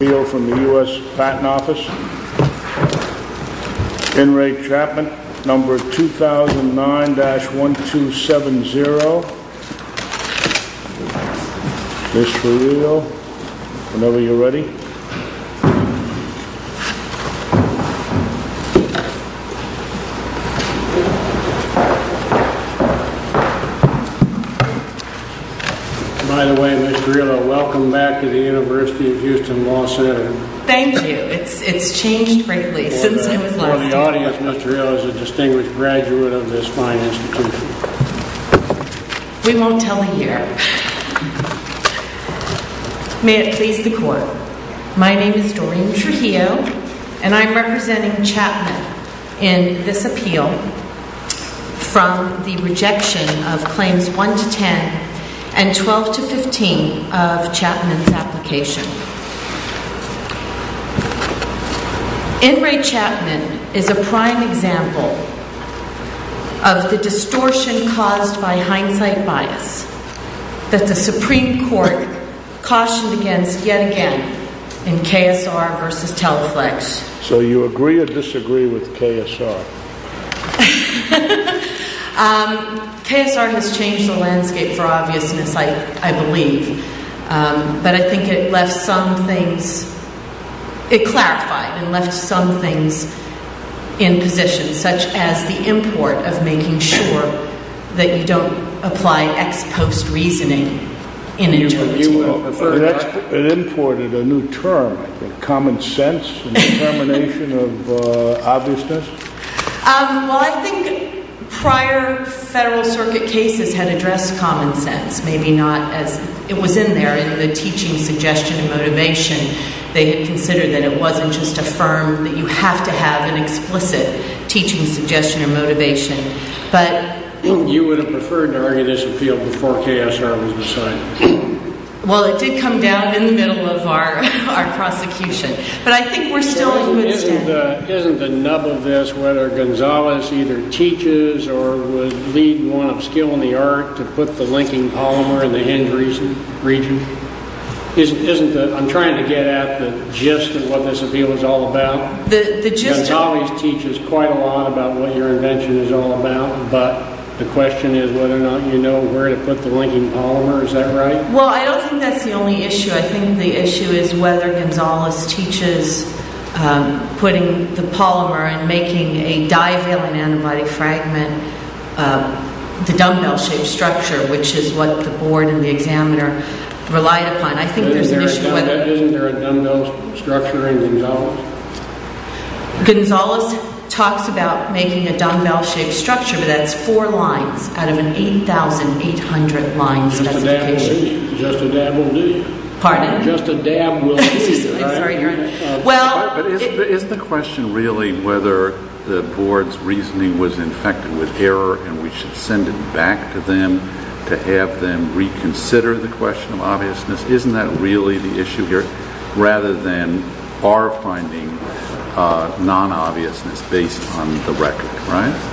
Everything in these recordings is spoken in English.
from the U.S. Patent Office, N. Ray Chapman, number 2009-1270, Mr. Reale, whenever you are ready. By the way, Ms. Reale, welcome back to the University of Houston Law Center. Thank you. It's changed, frankly, since I was last here. For the audience, Ms. Reale is a distinguished graduate of this fine institution. We won't tell a year. May it please the Court. My name is Doreen Trujillo, and I'm representing Chapman in this appeal from the rejection of Claims 1-10 and 12-15 of Chapman's application. N. Ray Chapman is a prime example of the distortion caused by hindsight bias that the Supreme Court cautioned against yet again in KSR versus Telflex. So you agree or disagree with KSR? KSR has changed the landscape for obviousness, I believe. But I think it left some things – it clarified and left some things in position, such as the import of making sure that you don't apply ex post-reasoning in a jury trial. It imported a new term, common sense and determination of obviousness? Well, I think prior Federal Circuit cases had addressed common sense. Maybe not as – it was in there in the teaching suggestion and motivation. They had considered that it wasn't just affirmed that you have to have an explicit teaching suggestion or motivation. You would have preferred to argue this appeal before KSR was decided? Well, it did come down in the middle of our prosecution. But I think we're still in good stead. Isn't the nub of this whether Gonzales either teaches or would lead one of skill in the art to put the linking polymer in the hinge region? Isn't the – I'm trying to get at the gist of what this appeal is all about. The gist of – Well, I don't think that's the only issue. I think the issue is whether Gonzales teaches putting the polymer and making a divalent antibody fragment, the dumbbell-shaped structure, which is what the board and the examiner relied upon. I think there's an issue whether – Isn't there a dumbbell structure in Gonzales? Gonzales talks about making a dumbbell-shaped structure, but that's four lines out of an 8,800 line specification. Just a dab will do. Pardon? Just a dab will do. I'm sorry. Well – But is the question really whether the board's reasoning was infected with error and we should send it back to them to have them reconsider the question of obviousness? Isn't that really the issue here rather than our finding non-obviousness based on the record, right?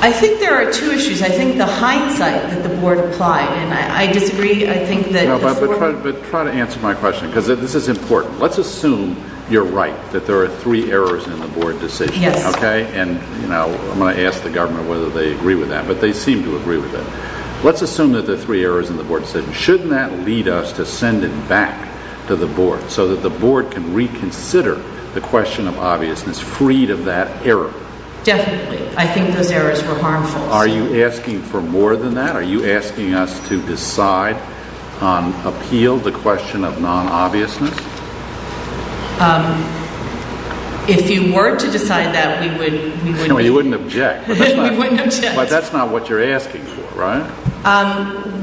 I think there are two issues. I think the hindsight that the board applied – and I disagree. I think that – No, but try to answer my question because this is important. Let's assume you're right, that there are three errors in the board decision. Yes. Okay? And, you know, I'm going to ask the government whether they agree with that, but they seem to agree with it. Let's assume that there are three errors in the board decision. Shouldn't that lead us to send it back to the board so that the board can reconsider the question of obviousness freed of that error? Definitely. I think those errors were harmful. Are you asking for more than that? Are you asking us to decide on – appeal the question of non-obviousness? If you were to decide that, we would – No, you wouldn't object. We wouldn't object. But that's not what you're asking for, right?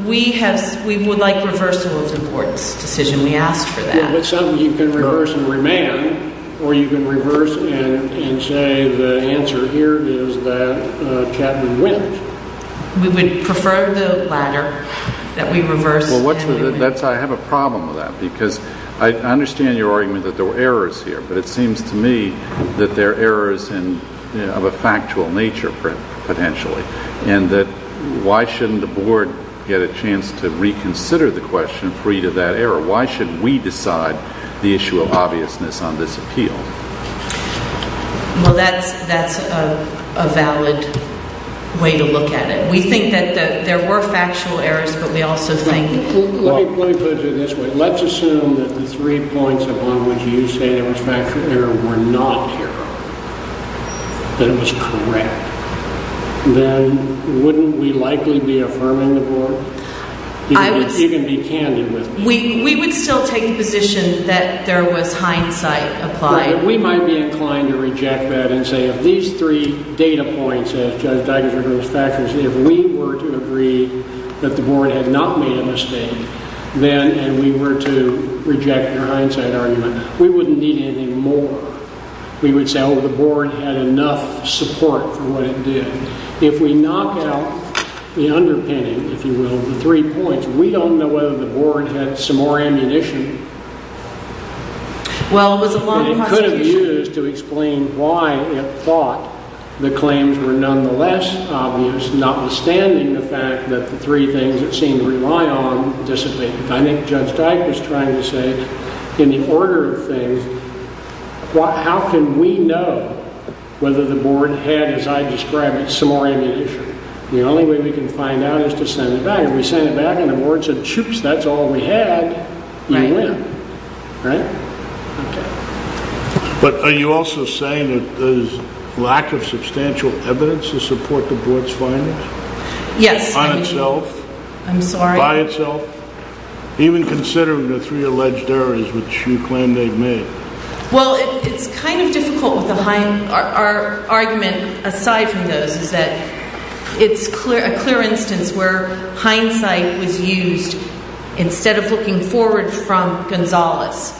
We have – we would like reversal of the board's decision. We asked for that. It's something you can reverse and remain on, or you can reverse and say the answer here is that Chapman wins. We would prefer the latter, that we reverse and we win. Well, that's – I have a problem with that because I understand your argument that there were errors here, but it seems to me that they're errors of a factual nature, potentially, and that why shouldn't the board get a chance to reconsider the question free of that error? Why should we decide the issue of obviousness on this appeal? Well, that's a valid way to look at it. We think that there were factual errors, but we also think – Let me put it this way. Let's assume that the three points upon which you say there was factual error were not error, that it was correct. Then wouldn't we likely be affirming the board? You can be candid with me. We would still take the position that there was hindsight applied. Right. We might be inclined to reject that and say if these three data points, as Judge Digers referred to those factors, if we were to agree that the board had not made a mistake, then – and we were to reject your hindsight argument – we wouldn't need anything more. We would say, oh, the board had enough support for what it did. If we knock out the underpinning, if you will, of the three points, we don't know whether the board had some more ammunition that it could have used to explain why it thought the claims were nonetheless obvious, notwithstanding the fact that the three things it seemed to rely on dissipated. I think Judge Dike was trying to say, in the order of things, how can we know whether the board had, as I described, some more ammunition? The only way we can find out is to send it back. If we send it back and the board said, shoops, that's all we had, you win. Right. Right? Okay. But are you also saying that there's lack of substantial evidence to support the board's findings? Yes. On itself? I'm sorry? By itself? Even considering the three alleged errors which you claim they've made? Well, it's kind of difficult with the – our argument aside from those is that it's a clear instance where hindsight was used instead of looking forward from Gonzales.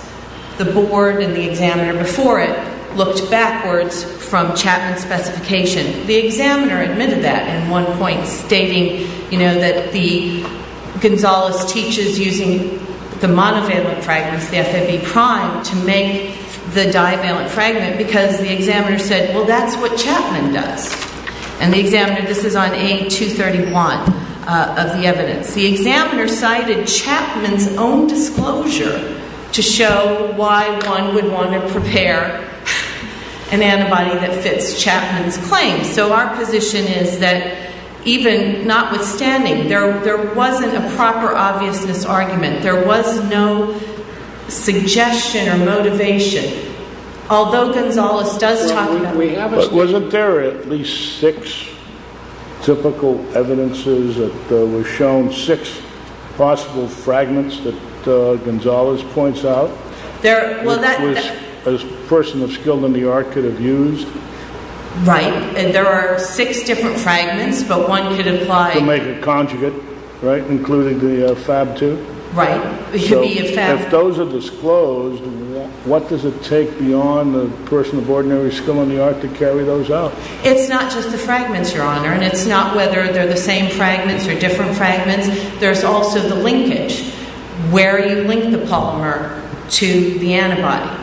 The board and the examiner before it looked backwards from Chapman's specification. The examiner admitted that at one point, stating, you know, that the – Gonzales teaches using the monovalent fragments, the FMV prime, to make the divalent fragment because the examiner said, well, that's what Chapman does. And the examiner – this is on A231 of the evidence. The examiner cited Chapman's own disclosure to show why one would want to prepare an antibody that fits Chapman's claim. So our position is that even notwithstanding, there wasn't a proper obviousness argument. There was no suggestion or motivation. Although Gonzales does talk about – But wasn't there at least six typical evidences that were shown, six possible fragments that Gonzales points out, which a person of skill in the art could have used? Right. And there are six different fragments, but one could imply – To make a conjugate, right? Including the Fab II? If those are disclosed, what does it take beyond the person of ordinary skill in the art to carry those out? It's not just the fragments, Your Honor, and it's not whether they're the same fragments or different fragments. There's also the linkage, where you link the polymer to the antibody.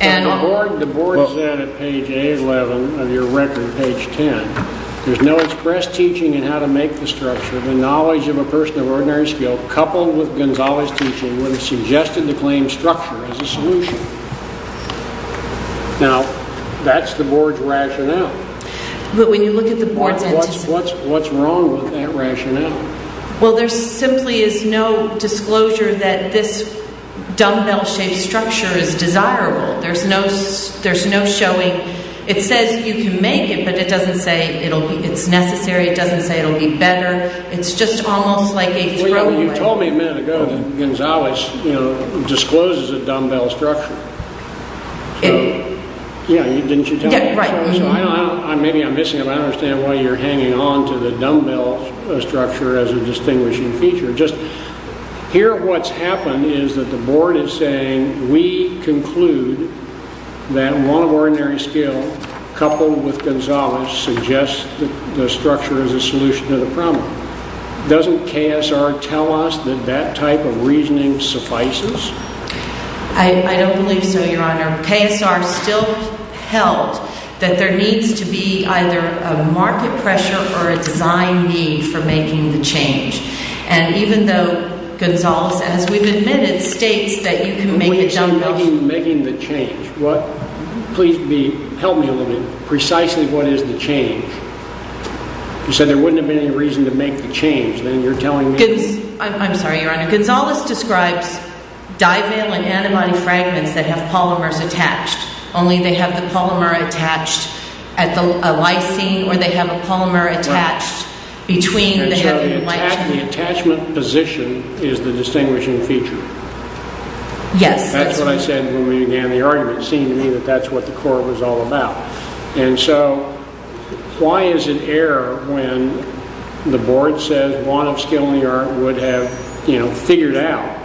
The board is at page A11 of your record, page 10. There's no express teaching in how to make the structure. The knowledge of a person of ordinary skill coupled with Gonzales' teaching would have suggested the claim structure as a solution. Now, that's the board's rationale. But when you look at the board's – What's wrong with that rationale? Well, there simply is no disclosure that this dumbbell-shaped structure is desirable. There's no showing. It says you can make it, but it doesn't say it's necessary. It doesn't say it'll be better. It's just almost like a throwaway. Well, you told me a minute ago that Gonzales discloses a dumbbell structure. Yeah, didn't you tell me that? Yeah, right. Maybe I'm missing it. I don't understand why you're hanging on to the dumbbell structure as a distinguishing feature. Just hear what's happened is that the board is saying we conclude that one of ordinary skill coupled with Gonzales suggests the structure as a solution to the problem. Doesn't KSR tell us that that type of reasoning suffices? I don't believe so, Your Honor. KSR still held that there needs to be either a market pressure or a design need for making the change. And even though Gonzales, as we've admitted, states that you can make a dumbbell structure – When you say making the change, please help me a little bit. Precisely what is the change? You said there wouldn't have been any reason to make the change, then you're telling me – I'm sorry, Your Honor. Gonzales describes divalent antibody fragments that have polymers attached. Only they have the polymer attached at the lysine or they have a polymer attached between the heavy lysine. And so the attachment position is the distinguishing feature? Yes. That's what I said when we began the argument. It seemed to me that that's what the court was all about. And so why is it error when the board says Bonofskill, New York, would have figured out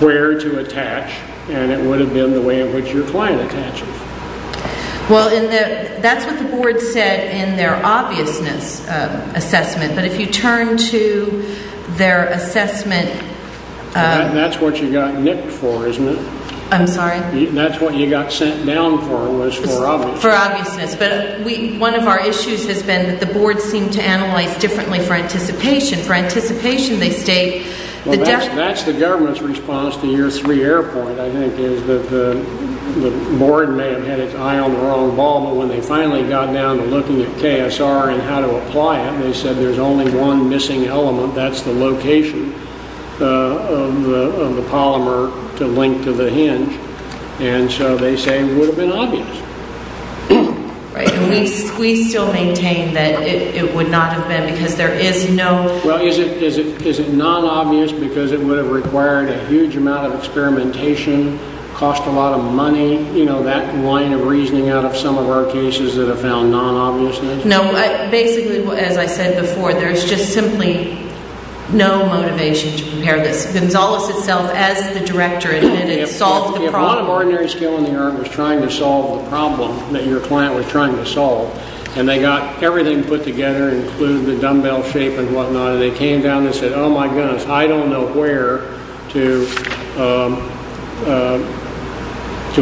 where to attach and it would have been the way in which your client attaches? Well, that's what the board said in their obviousness assessment. But if you turn to their assessment – That's what you got nicked for, isn't it? I'm sorry? That's what you got sent down for, was for obviousness. For obviousness. But one of our issues has been that the board seemed to analyze differently for anticipation. For anticipation, they state – That's the government's response to year three error point, I think, is that the board may have had its eye on the wrong ball, but when they finally got down to looking at KSR and how to apply it, they said there's only one missing element. That's the location of the polymer to link to the hinge. And so they say it would have been obvious. Right. And we still maintain that it would not have been because there is no – Well, is it non-obvious because it would have required a huge amount of experimentation, cost a lot of money, you know, that line of reasoning out of some of our cases that have found non-obviousness? No. Basically, as I said before, there's just simply no motivation to prepare this. Gonzales itself, as the director, admitted it solved the problem. If a lot of ordinary skill in the art was trying to solve the problem that your client was trying to solve and they got everything put together, include the dumbbell shape and whatnot, and they came down and said, oh, my goodness, I don't know where to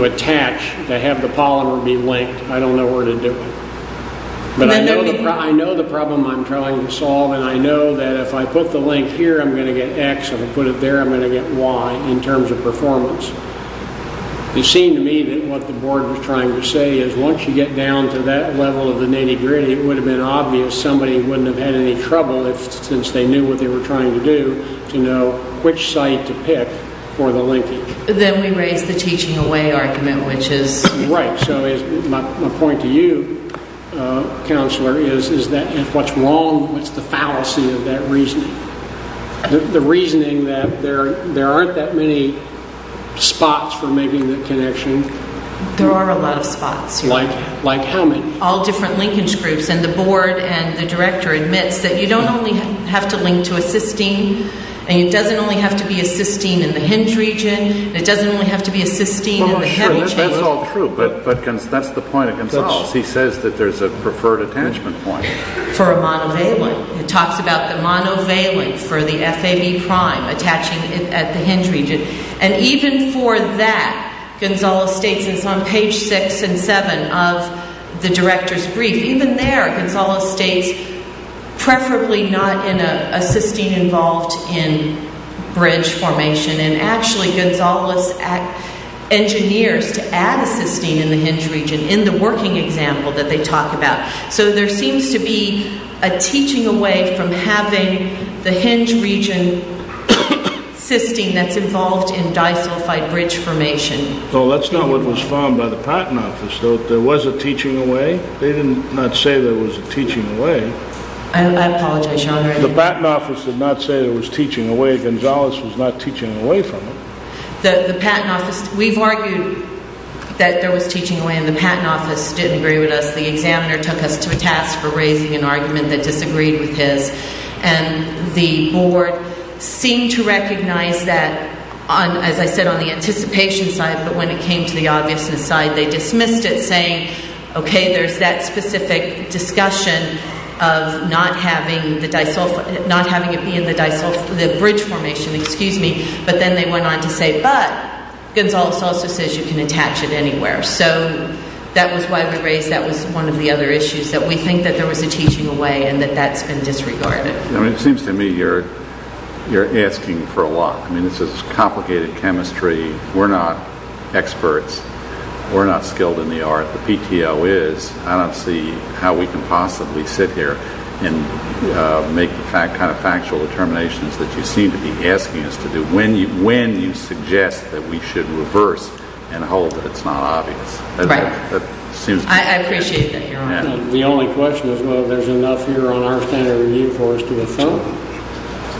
attach, to have the polymer be linked, I don't know where to do it. But I know the problem I'm trying to solve, and I know that if I put the link here, I'm going to get X. If I put it there, I'm going to get Y in terms of performance. It seemed to me that what the board was trying to say is once you get down to that level of the nitty-gritty, it would have been obvious. Somebody wouldn't have had any trouble, since they knew what they were trying to do, to know which site to pick for the linking. Then we raise the teaching away argument, which is – Right, so my point to you, Counselor, is that if what's wrong, what's the fallacy of that reasoning? The reasoning that there aren't that many spots for making the connection. There are a lot of spots. Like how many? All different linkage groups, and the board and the director admits that you don't only have to link to a cysteine, and it doesn't only have to be a cysteine in the hinge region, and it doesn't only have to be a cysteine in the heavy chain. That's all true, but that's the point of Gonzales. He says that there's a preferred attachment point. For a monovalent. He talks about the monovalent for the FAB prime attaching at the hinge region. And even for that, Gonzales states, and it's on page six and seven of the director's brief, even there, Gonzales states, preferably not in a cysteine involved in bridge formation, and actually Gonzales engineers to add a cysteine in the hinge region in the working example that they talk about. So there seems to be a teaching away from having the hinge region cysteine that's involved in disulfide bridge formation. Well, that's not what was found by the Patent Office. There was a teaching away. They did not say there was a teaching away. I apologize, Your Honor. The Patent Office did not say there was teaching away. They said Gonzales was not teaching away from it. The Patent Office, we've argued that there was teaching away, and the Patent Office didn't agree with us. The examiner took us to a task for raising an argument that disagreed with his. And the board seemed to recognize that, as I said, on the anticipation side, but when it came to the obviousness side, they dismissed it, saying, okay, there's that specific discussion of not having it be in the bridge formation, but then they went on to say, but Gonzales also says you can attach it anywhere. So that was why we raised that was one of the other issues, that we think that there was a teaching away and that that's been disregarded. It seems to me you're asking for a lot. I mean, this is complicated chemistry. We're not experts. We're not skilled in the art. The PTO is. I don't see how we can possibly sit here and make the kind of factual determinations that you seem to be asking us to do when you suggest that we should reverse and hold that it's not obvious. Right. I appreciate that, Your Honor. The only question is, well, there's enough here on our standard review for us to affirm.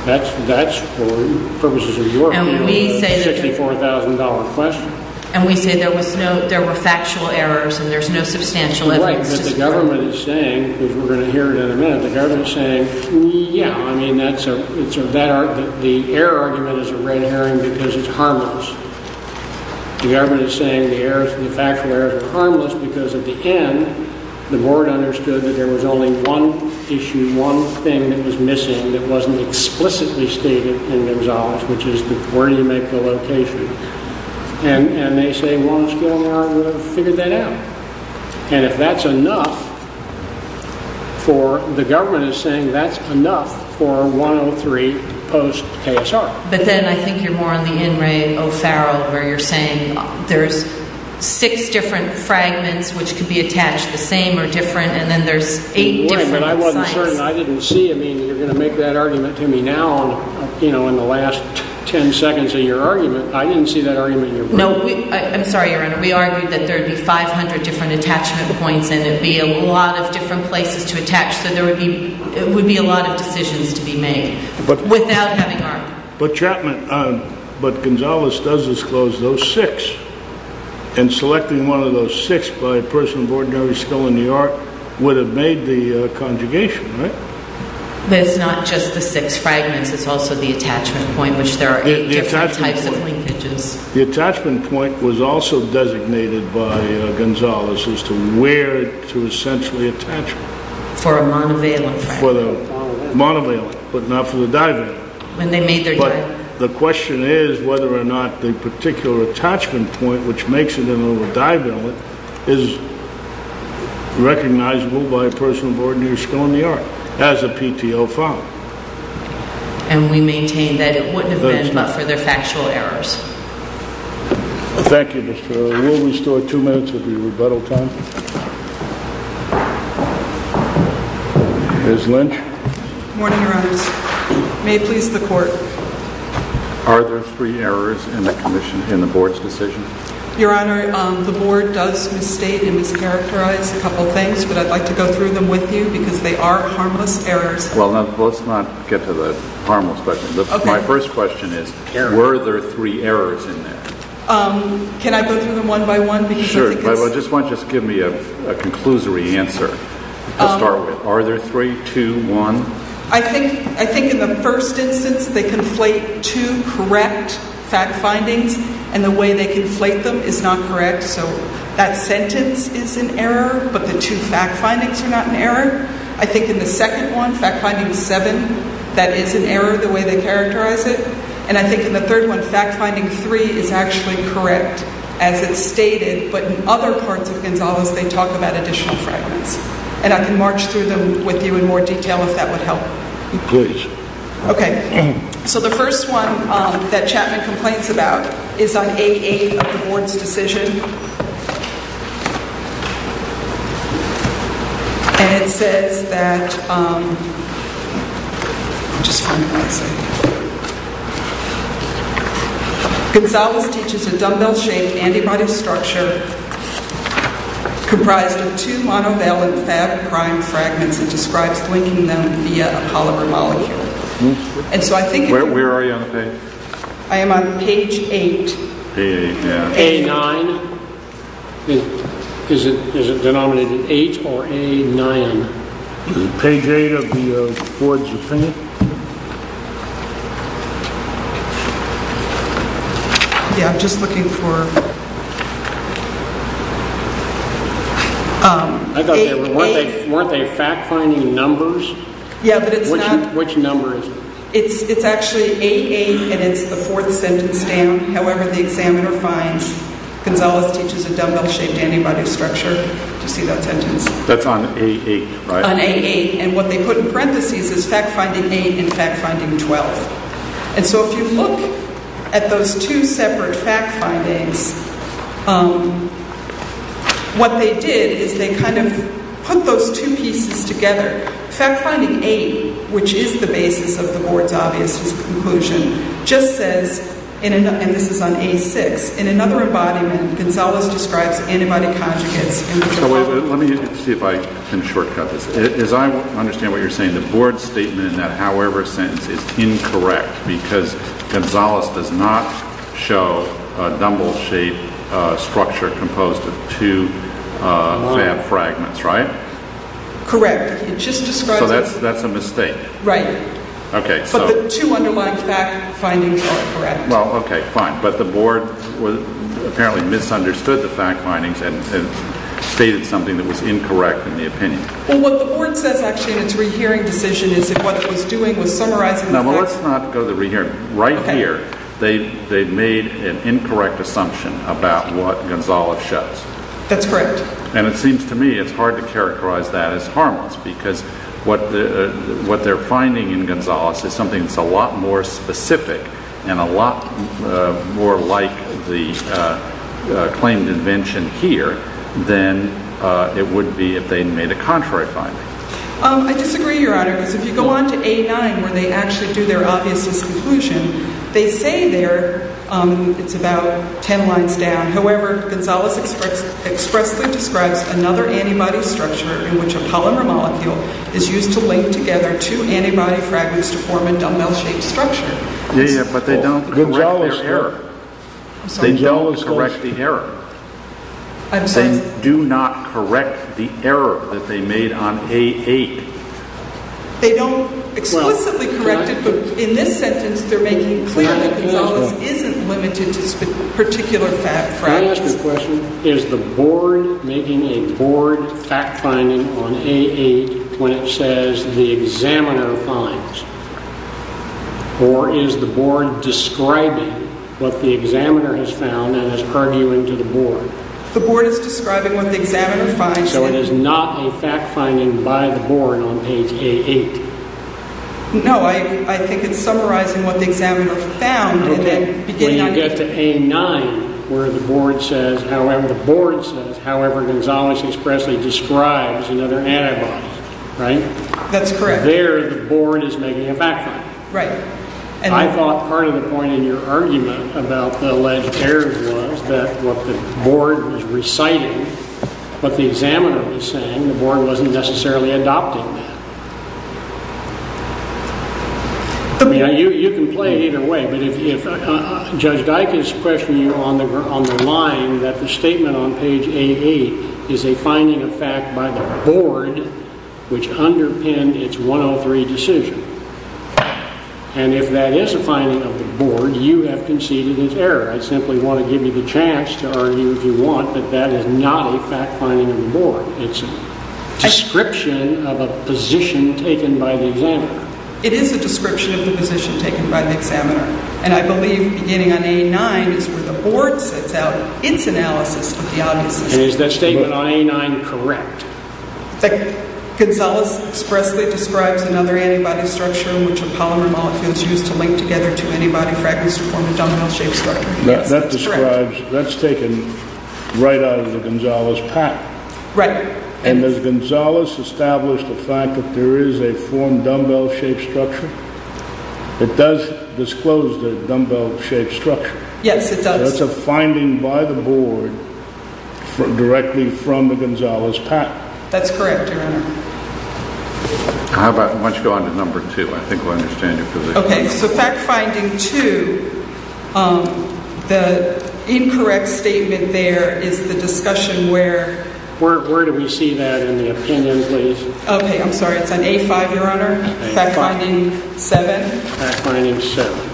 That's, for purposes of your opinion, a $64,000 question. And we say there were factual errors and there's no substantial evidence to support it. Right, but the government is saying, because we're going to hear it in a minute, the government is saying, yeah, I mean, the error argument is a red herring because it's harmless. The government is saying the factual errors are harmless because at the end, the board understood that there was only one issue, one thing that was missing that wasn't explicitly stated in Gonzales, which is where do you make the location. And they say, well, let's go in there and figure that out. And if that's enough for the government is saying that's enough for 103 post-ASR. But then I think you're more on the In re O'Farrell where you're saying there's six different fragments which could be attached the same or different, and then there's eight different sites. Right, but I wasn't certain. I didn't see. I mean, you're going to make that argument to me now, you know, in the last 10 seconds of your argument. I didn't see that argument. No, I'm sorry, Your Honor. We argued that there would be 500 different attachment points and it would be a lot of different places to attach. So there would be a lot of decisions to be made. But, Chapman, but Gonzales does disclose those six. And selecting one of those six by a person of ordinary skill in New York would have made the conjugation, right? But it's not just the six fragments. It's also the attachment point, which there are eight different types of linkages. The attachment point was also designated by Gonzales as to where to essentially attach. For a monovalent fragment. Not for the monovalent, but not for the divalent. When they made their dive. But the question is whether or not the particular attachment point which makes it into a divalent is recognizable by a person of ordinary skill in New York as a PTO file. And we maintain that it wouldn't have been but for their factual errors. Thank you, Mr. O'Rourke. We'll restore two minutes of your rebuttal time. Good morning, Your Honors. May it please the Court. Are there three errors in the board's decision? Your Honor, the board does misstate and mischaracterize a couple things. But I'd like to go through them with you because they are harmless errors. Well, let's not get to the harmless. My first question is were there three errors in there? Can I go through them one by one? Sure. Just give me a conclusory answer to start with. Are there three, two, one? I think in the first instance they conflate two correct fact findings, and the way they conflate them is not correct. So that sentence is an error, but the two fact findings are not an error. I think in the second one, fact finding seven, that is an error the way they characterize it. And I think in the third one, fact finding three is actually correct as it's stated, but in other parts of Gonzales they talk about additional fragments. And I can march through them with you in more detail if that would help. Please. Okay. So the first one that Chapman complains about is on 8A of the board's decision. And it says that, let me just find what it says. Gonzales teaches a dumbbell-shaped antibody structure comprised of two monovalent fat prime fragments and describes linking them via a polymer molecule. Where are you on the page? I am on page 8. Page 8. A9. Is it denominated 8 or A9? Page 8 of the board's opinion. Yeah, I'm just looking for 8A. Weren't they fact finding numbers? Yeah, but it's not. Which number is it? It's actually 8A and it's the fourth sentence down. However, the examiner finds Gonzales teaches a dumbbell-shaped antibody structure. Just see that sentence. That's on 8A, right? On A8. And what they put in parentheses is fact finding 8 and fact finding 12. And so if you look at those two separate fact findings, what they did is they kind of put those two pieces together. Fact finding 8, which is the basis of the board's obvious conclusion, just says, and this is on A6, in another embodiment, Gonzales describes antibody conjugates. Let me see if I can shortcut this. As I understand what you're saying, the board's statement in that however sentence is incorrect because Gonzales does not show a dumbbell-shaped structure composed of two FAB fragments, right? Correct. So that's a mistake. Right. But the two underlying fact findings are correct. Well, okay, fine. But the board apparently misunderstood the fact findings and stated something that was incorrect in the opinion. Well, what the board says actually in its rehearing decision is that what it was doing was summarizing the facts. Now, let's not go to the rehearing. Right here, they made an incorrect assumption about what Gonzales shows. That's correct. And it seems to me it's hard to characterize that as harmless because what they're finding in Gonzales is something that's a lot more specific and a lot more like the claim and invention here than it would be if they had made a contrary finding. I disagree, Your Honor, because if you go on to A9 where they actually do their obviousness conclusion, they say there it's about ten lines down. However, Gonzales expressly describes another antibody structure in which a polymer molecule is used to link together two antibody fragments to form a dumbbell-shaped structure. Yeah, but they don't correct their error. They don't correct the error. They do not correct the error that they made on A8. They don't explicitly correct it, but in this sentence they're making clear that Gonzales isn't limited to particular fact fragments. May I ask a question? Is the board making a board fact finding on A8 when it says the examiner finds? Or is the board describing what the examiner has found and is arguing to the board? The board is describing what the examiner finds. So it is not a fact finding by the board on page A8? No, I think it's summarizing what the examiner found. When you get to A9 where the board says however Gonzales expressly describes another antibody, right? That's correct. There the board is making a fact finding. Right. I thought part of the point in your argument about the alleged error was that what the board was reciting, what the examiner was saying, the board wasn't necessarily adopting that. You can play it either way. But if Judge Dike is questioning you on the line that the statement on page A8 is a finding of fact by the board, which underpinned its 103 decision, and if that is a finding of the board, you have conceded it's error. I simply want to give you the chance to argue if you want that that is not a fact finding of the board. It's a description of a position taken by the examiner. It is a description of the position taken by the examiner. And I believe beginning on A9 is where the board sets out its analysis of the obvious. Is that statement on A9 correct? Gonzales expressly describes another antibody structure in which a polymer molecule is used to link together two antibody fragments to form a domino shape structure. That's correct. That's taken right out of the Gonzales pattern. Right. And has Gonzales established the fact that there is a formed dumbbell shape structure? It does disclose the dumbbell shape structure. Yes, it does. That's a finding by the board directly from the Gonzales pattern. That's correct, Your Honor. Why don't you go on to number two? I think we'll understand your position. Okay, so fact finding two, the incorrect statement there is the discussion where... Where do we see that in the opinion, please? Okay, I'm sorry. It's on A5, Your Honor. Fact finding seven. Fact finding seven.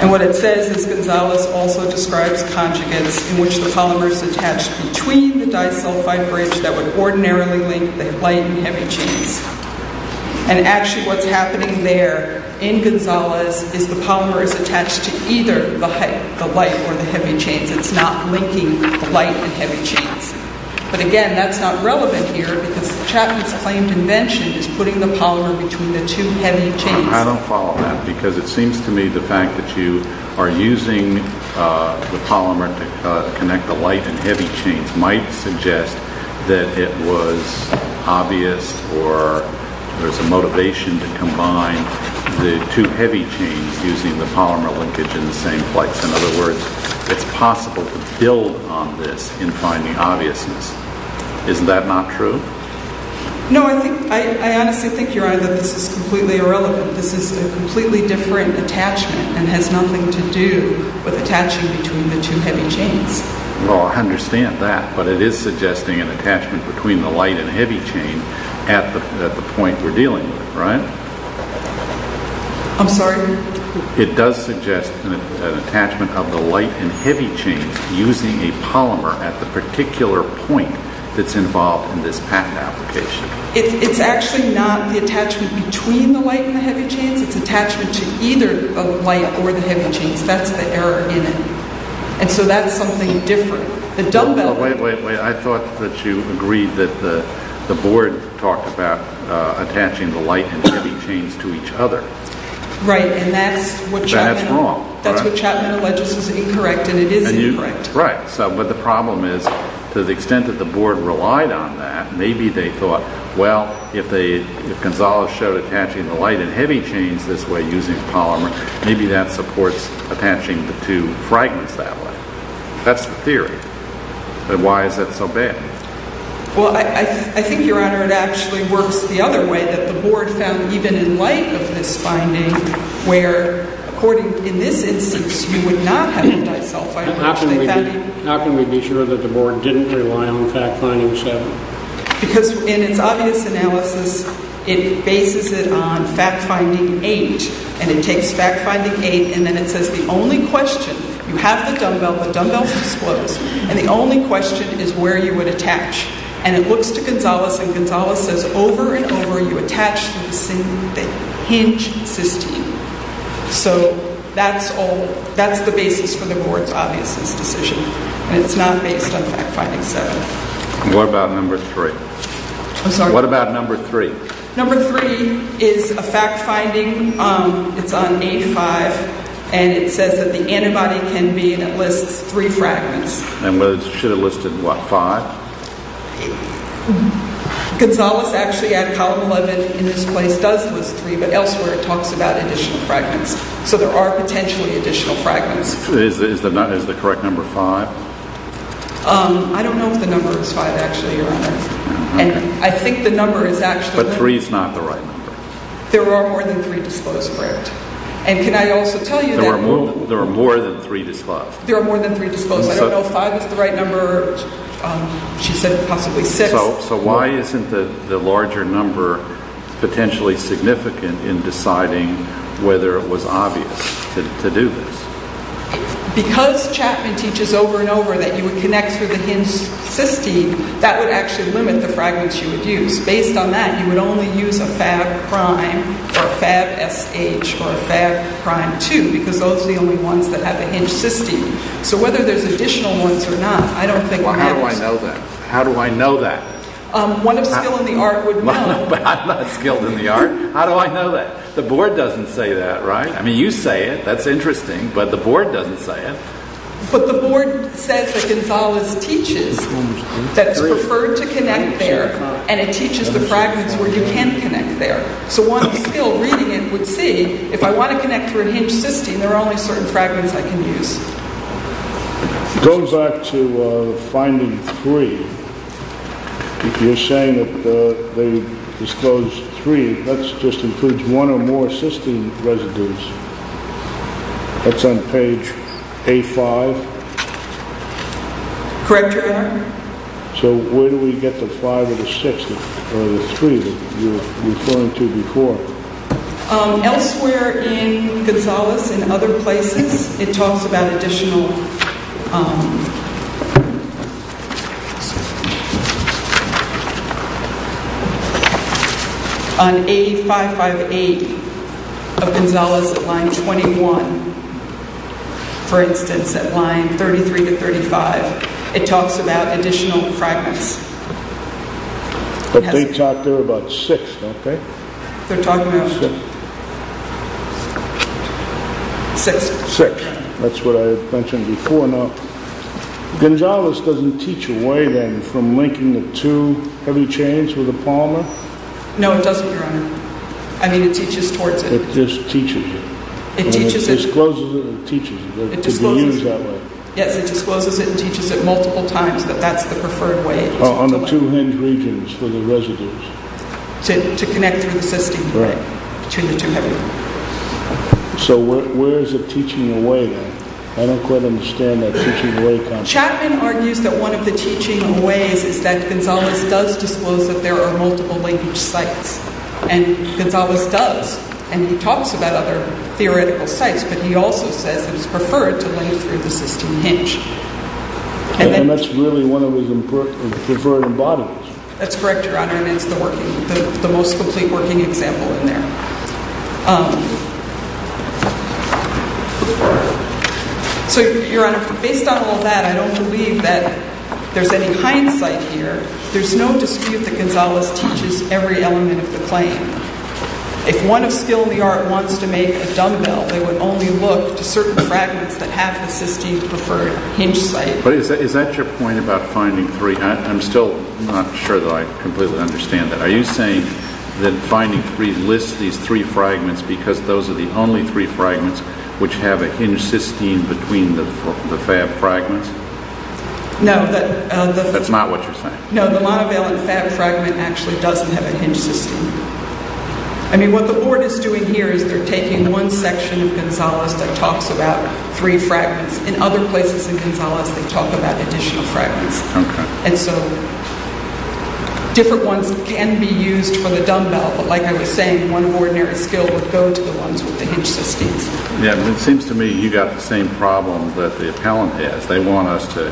And what it says is Gonzales also describes conjugates in which the polymer is attached between the disulfide bridge that would ordinarily link the light and heavy chains. And actually what's happening there in Gonzales is the polymer is attached to either the light or the heavy chains. It's not linking the light and heavy chains. But again, that's not relevant here because Chapman's claimed invention is putting the polymer between the two heavy chains. I don't follow that because it seems to me the fact that you are using the polymer to connect the light and heavy chains might suggest that it was obvious or there's a motivation to combine the two heavy chains using the polymer linkage in the same place. In other words, it's possible to build on this in finding obviousness. Isn't that not true? No, I honestly think, Your Honor, that this is completely irrelevant. This is a completely different attachment and has nothing to do with attaching between the two heavy chains. Well, I understand that, but it is suggesting an attachment between the light and heavy chain at the point we're dealing with, right? I'm sorry? It does suggest an attachment of the light and heavy chains using a polymer at the particular point that's involved in this patent application. It's actually not the attachment between the light and the heavy chains. It's attachment to either the light or the heavy chains. That's the error in it. And so that's something different. Wait, wait, wait. I thought that you agreed that the board talked about attaching the light and heavy chains to each other. Right, and that's what Chapman alleges is incorrect, and it is incorrect. Right. But the problem is to the extent that the board relied on that, maybe they thought, well, if Gonzalo showed attaching the light and heavy chains this way using the polymer, maybe that supports attaching the two fragments that way. That's the theory. But why is that so bad? Well, I think, Your Honor, it actually works the other way, that the board found even in light of this finding where, according to this instance, you would not have the disulphide. How can we be sure that the board didn't rely on fact-finding seven? Because in its obvious analysis, it bases it on fact-finding eight, and it takes fact-finding eight, and then it says the only question, you have the dumbbell, the dumbbell's disclosed, and the only question is where you would attach. And it looks to Gonzalo, and Gonzalo says over and over you attach the hinge cysteine. So that's the basis for the board's obviousness decision, and it's not based on fact-finding seven. What about number three? I'm sorry? What about number three? Number three is a fact-finding. It's on 8-5, and it says that the antibody can be in at least three fragments. And should it list in what, five? Gonzalo's actually at column 11 in this place does list three, but elsewhere it talks about additional fragments. So there are potentially additional fragments. Is the correct number five? I don't know if the number is five, actually, Your Honor. I think the number is actually... But three's not the right number. There are more than three disclosed, correct? And can I also tell you that... There are more than three disclosed. There are more than three disclosed. I don't know if five is the right number. She said possibly six. So why isn't the larger number potentially significant in deciding whether it was obvious to do this? Because Chapman teaches over and over that you would connect through the hinge cysteine, that would actually limit the fragments you would use. Based on that, you would only use a Fab-Prime or a Fab-SH or a Fab-Prime-2, because those are the only ones that have a hinge cysteine. So whether there's additional ones or not, I don't think matters. Well, how do I know that? How do I know that? One of skill in the art would know. But I'm not skilled in the art. How do I know that? The Board doesn't say that, right? I mean, you say it. That's interesting. But the Board doesn't say it. But the Board says that Gonzales teaches that it's preferred to connect there, and it teaches the fragments where you can connect there. So one skill, reading it, would see if I want to connect through a hinge cysteine, there are only certain fragments I can use. Go back to finding three. You're saying that they disclosed three. That just includes one or more cysteine residues. That's on page A-5. Correct, Your Honor. So where do we get the five or the six or the three that you were referring to before? Elsewhere in Gonzales and other places, it talks about additional... On A-558 of Gonzales at line 21, for instance, at line 33 to 35, it talks about additional fragments. But they talk there about six, don't they? They're talking about six. That's what I had mentioned before. Now, Gonzales doesn't teach away, then, from linking the two heavy chains with a palmer? No, it doesn't, Your Honor. I mean, it teaches towards it. It just teaches it. It teaches it. And it discloses it and teaches it. It discloses it. It could be used that way. Yes, it discloses it and teaches it multiple times that that's the preferred way. On the two hinge regions for the residues. To connect through the cysteine. Right. Between the two heavy chains. So where is it teaching away, then? I don't quite understand that teaching away concept. Chapman argues that one of the teaching aways is that Gonzales does disclose that there are multiple linkage sites. And Gonzales does. And he talks about other theoretical sites. But he also says that it's preferred to link through the cysteine hinge. And that's really one of his preferred embodiments. That's correct, Your Honor. And it's the most complete working example in there. So, Your Honor, based on all that, I don't believe that there's any hindsight here. There's no dispute that Gonzales teaches every element of the claim. If one of skill in the art wants to make a dumbbell, they would only look to certain fragments that have the cysteine preferred hinge site. But is that your point about finding three? I'm still not sure that I completely understand that. Are you saying that finding three lists these three fragments because those are the only three fragments which have a hinged cysteine between the fab fragments? No. That's not what you're saying? No, the monovalent fab fragment actually doesn't have a hinged cysteine. I mean, what the board is doing here is they're taking one section of Gonzales that talks about three fragments. In other places in Gonzales, they talk about additional fragments. Okay. And so different ones can be used for the dumbbell, but like I was saying, one ordinary skill would go to the ones with the hinged cysteines. Yeah, but it seems to me you got the same problem that the appellant has. They want us to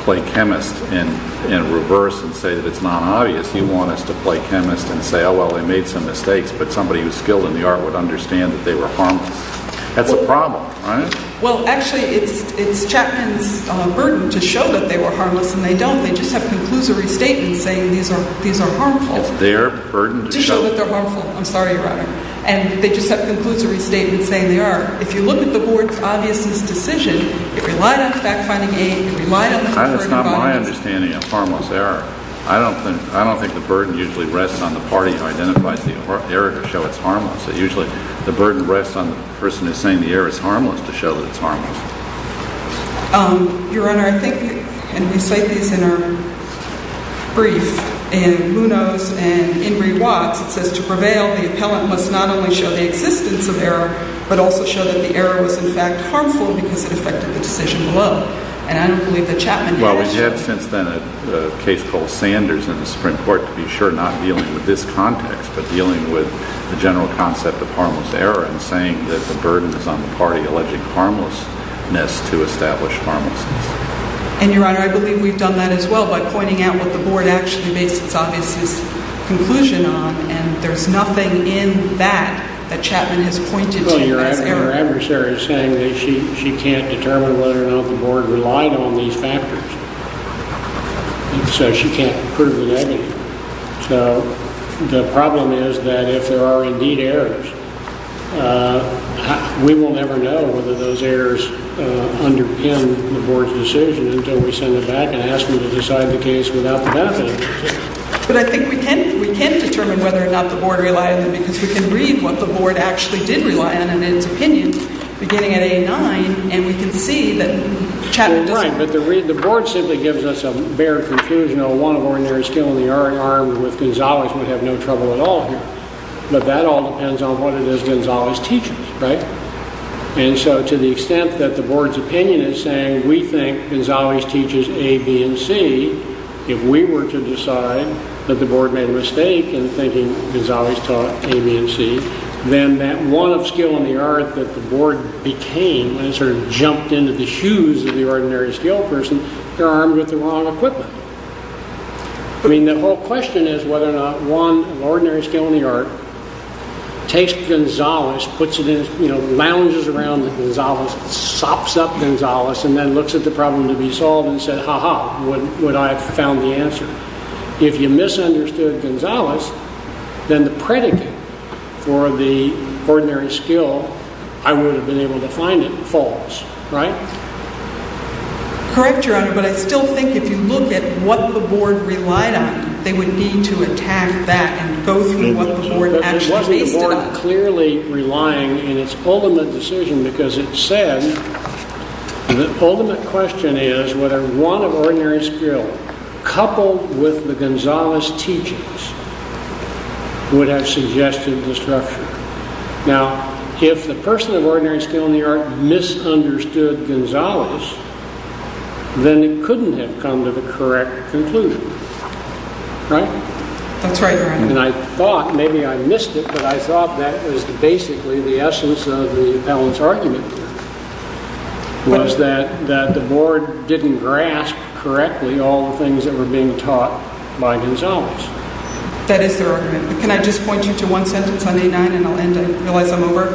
play chemist and reverse and say that it's not obvious. You want us to play chemist and say, oh, well, they made some mistakes, but somebody who's skilled in the art would understand that they were harmless. That's a problem, right? Well, actually, it's Chapman's burden to show that they were harmless, and they don't. They just have conclusory statements saying these are harmful. It's their burden to show. To show that they're harmful. I'm sorry, Your Honor. And they just have conclusory statements saying they are. If you look at the board's obviousness decision, it relied on fact-finding aid. It relied on the fact-finding bodies. That's not my understanding of harmless error. Usually, the burden rests on the person who's saying the error is harmless to show that it's harmless. Your Honor, I think, and we cite these in our brief, and who knows, and Ingrid Watts, it says, to prevail, the appellant must not only show the existence of error, but also show that the error was, in fact, harmful because it affected the decision below. And I don't believe that Chapman has. He had, since then, a case called Sanders in the Supreme Court, to be sure, not dealing with this context, but dealing with the general concept of harmless error and saying that the burden is on the party alleging harmlessness to establish harmlessness. And, Your Honor, I believe we've done that as well by pointing out what the board actually based its obviousness conclusion on, and there's nothing in that that Chapman has pointed to as error. I think our adversary is saying that she can't determine whether or not the board relied on these factors, so she can't prove the negative. So the problem is that if there are, indeed, errors, we will never know whether those errors underpin the board's decision until we send it back and ask them to decide the case without the benefit. But I think we can determine whether or not the board relied on them, because we can read what the board actually did rely on in its opinion, beginning at A-9, and we can see that Chapman doesn't. Well, right, but the board simply gives us a bare conclusion on one of ordinary skill, and the RER with Gonzales would have no trouble at all here. But that all depends on what it is Gonzales teaches, right? And so to the extent that the board's opinion is saying we think Gonzales teaches A, B, and C, if we were to decide that the board made a mistake in thinking Gonzales taught A, B, and C, then that one of skill in the art that the board became, and it sort of jumped into the shoes of the ordinary skilled person, they're armed with the wrong equipment. I mean, the whole question is whether or not one of ordinary skill in the art takes Gonzales, puts it in, you know, lounges around the Gonzales, sops up Gonzales, and then looks at the problem to be solved and said, ha-ha, would I have found the answer? If you misunderstood Gonzales, then the predicate for the ordinary skill, I would have been able to find it, falls, right? Correct, Your Honor, but I still think if you look at what the board relied on, they would need to attack that and go through what the board actually based it on. The board is not clearly relying in its ultimate decision because it said the ultimate question is whether one of ordinary skill coupled with the Gonzales teachings would have suggested the structure. Now, if the person of ordinary skill in the art misunderstood Gonzales, then it couldn't have come to the correct conclusion, right? That's right, Your Honor. And I thought, maybe I missed it, but I thought that was basically the essence of the appellant's argument here, was that the board didn't grasp correctly all the things that were being taught by Gonzales. That is their argument. Can I just point you to one sentence on A-9 and I'll end it? I realize I'm over.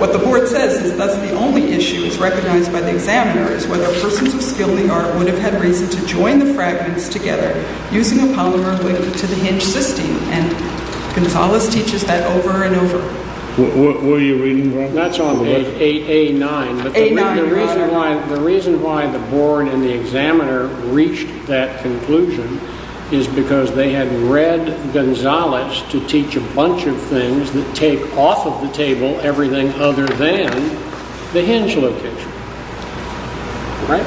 What the board says is that the only issue that's recognized by the examiner is whether persons of skill in the art would have had reason to join the fragments together using a polymer link to the hinge system, and Gonzales teaches that over and over. What are you reading from? That's on page A-9. A-9, Your Honor. The reason why the board and the examiner reached that conclusion is because they had read Gonzales to teach a bunch of things that take off of the table everything other than the hinge location, right?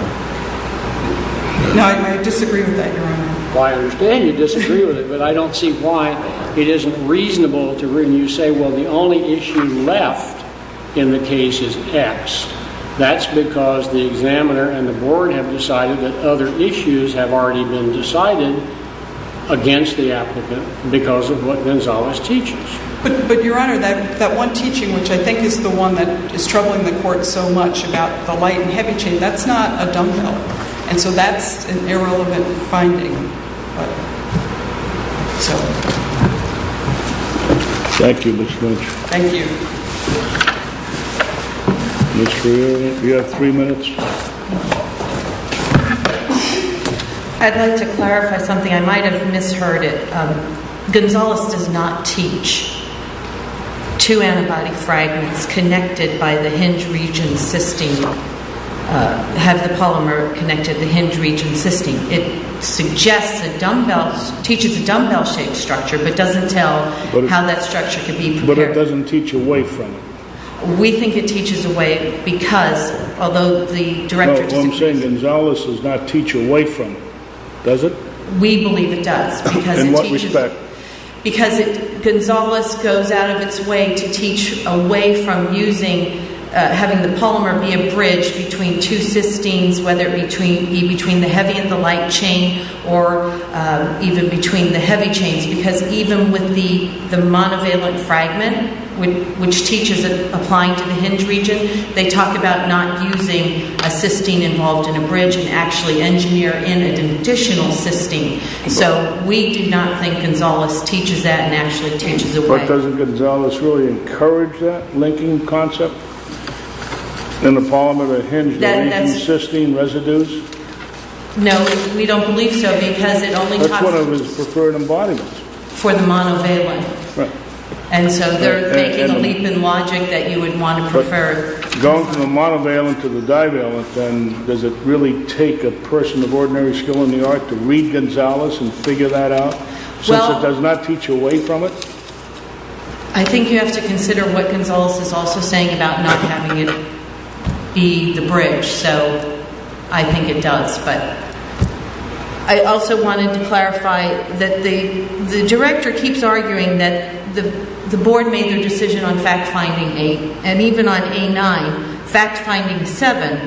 No, I disagree with that, Your Honor. I understand you disagree with it, but I don't see why it isn't reasonable to read and you say, well, the only issue left in the case is X. That's because the examiner and the board have decided that other issues have already been decided against the applicant because of what Gonzales teaches. But, Your Honor, that one teaching, which I think is the one that is troubling the court so much about the light and heavy chain, that's not a dumbbell. And so that's an irrelevant finding. Thank you, Ms. Lynch. Thank you. Ms. Carrillo, you have three minutes. I'd like to clarify something. I might have misheard it. Gonzales does not teach two antibody fragments connected by the hinge region system, have the polymer connected to the hinge region system. It suggests a dumbbell, teaches a dumbbell-shaped structure, but doesn't tell how that structure could be prepared. But it doesn't teach away from it. We think it teaches away because, although the director... No, what I'm saying, Gonzales does not teach away from it, does it? We believe it does. In what respect? Because Gonzales goes out of its way to teach away from having the polymer be a bridge between two cysteines, whether it be between the heavy and the light chain or even between the heavy chains. Because even with the monovalent fragment, which teaches applying to the hinge region, they talk about not using a cysteine involved in a bridge and actually engineer in an additional cysteine. So we do not think Gonzales teaches that and actually teaches away. But doesn't Gonzales really encourage that linking concept? In the polymer, the hinge region, cysteine residues? No, we don't believe so because it only talks... That's one of his preferred embodiments. For the monovalent. And so they're making a leap in logic that you would want to prefer. But going from the monovalent to the divalent, then does it really take a person of ordinary skill in the art to read Gonzales and figure that out? Since it does not teach away from it? I think you have to consider what Gonzales is also saying about not having it be the bridge. So I think it does. I also wanted to clarify that the director keeps arguing that the board made their decision on fact-finding 8. And even on A9, fact-finding 7,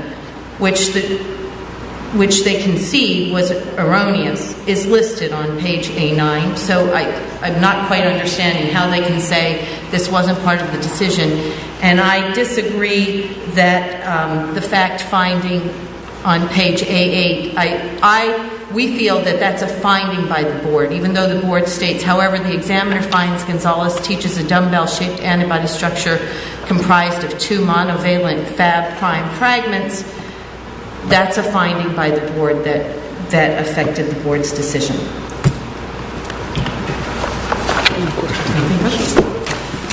which they concede was erroneous, is listed on page A9. So I'm not quite understanding how they can say this wasn't part of the decision. And I disagree that the fact-finding on page A8... We feel that that's a finding by the board, even though the board states, however the examiner finds Gonzales teaches a dumbbell-shaped antibody structure comprised of two monovalent fab-prime fragments, that's a finding by the board that affected the board's decision. Any questions?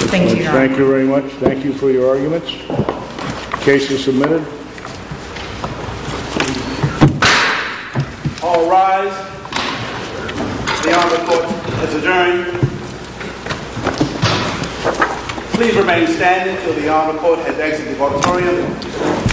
Thank you, Your Honor. Thank you very much. Thank you for your arguments. Case is submitted. All rise. The Honorable Court has adjourned. Please remain standing until the Honorable Court has exited the auditorium. Thank you.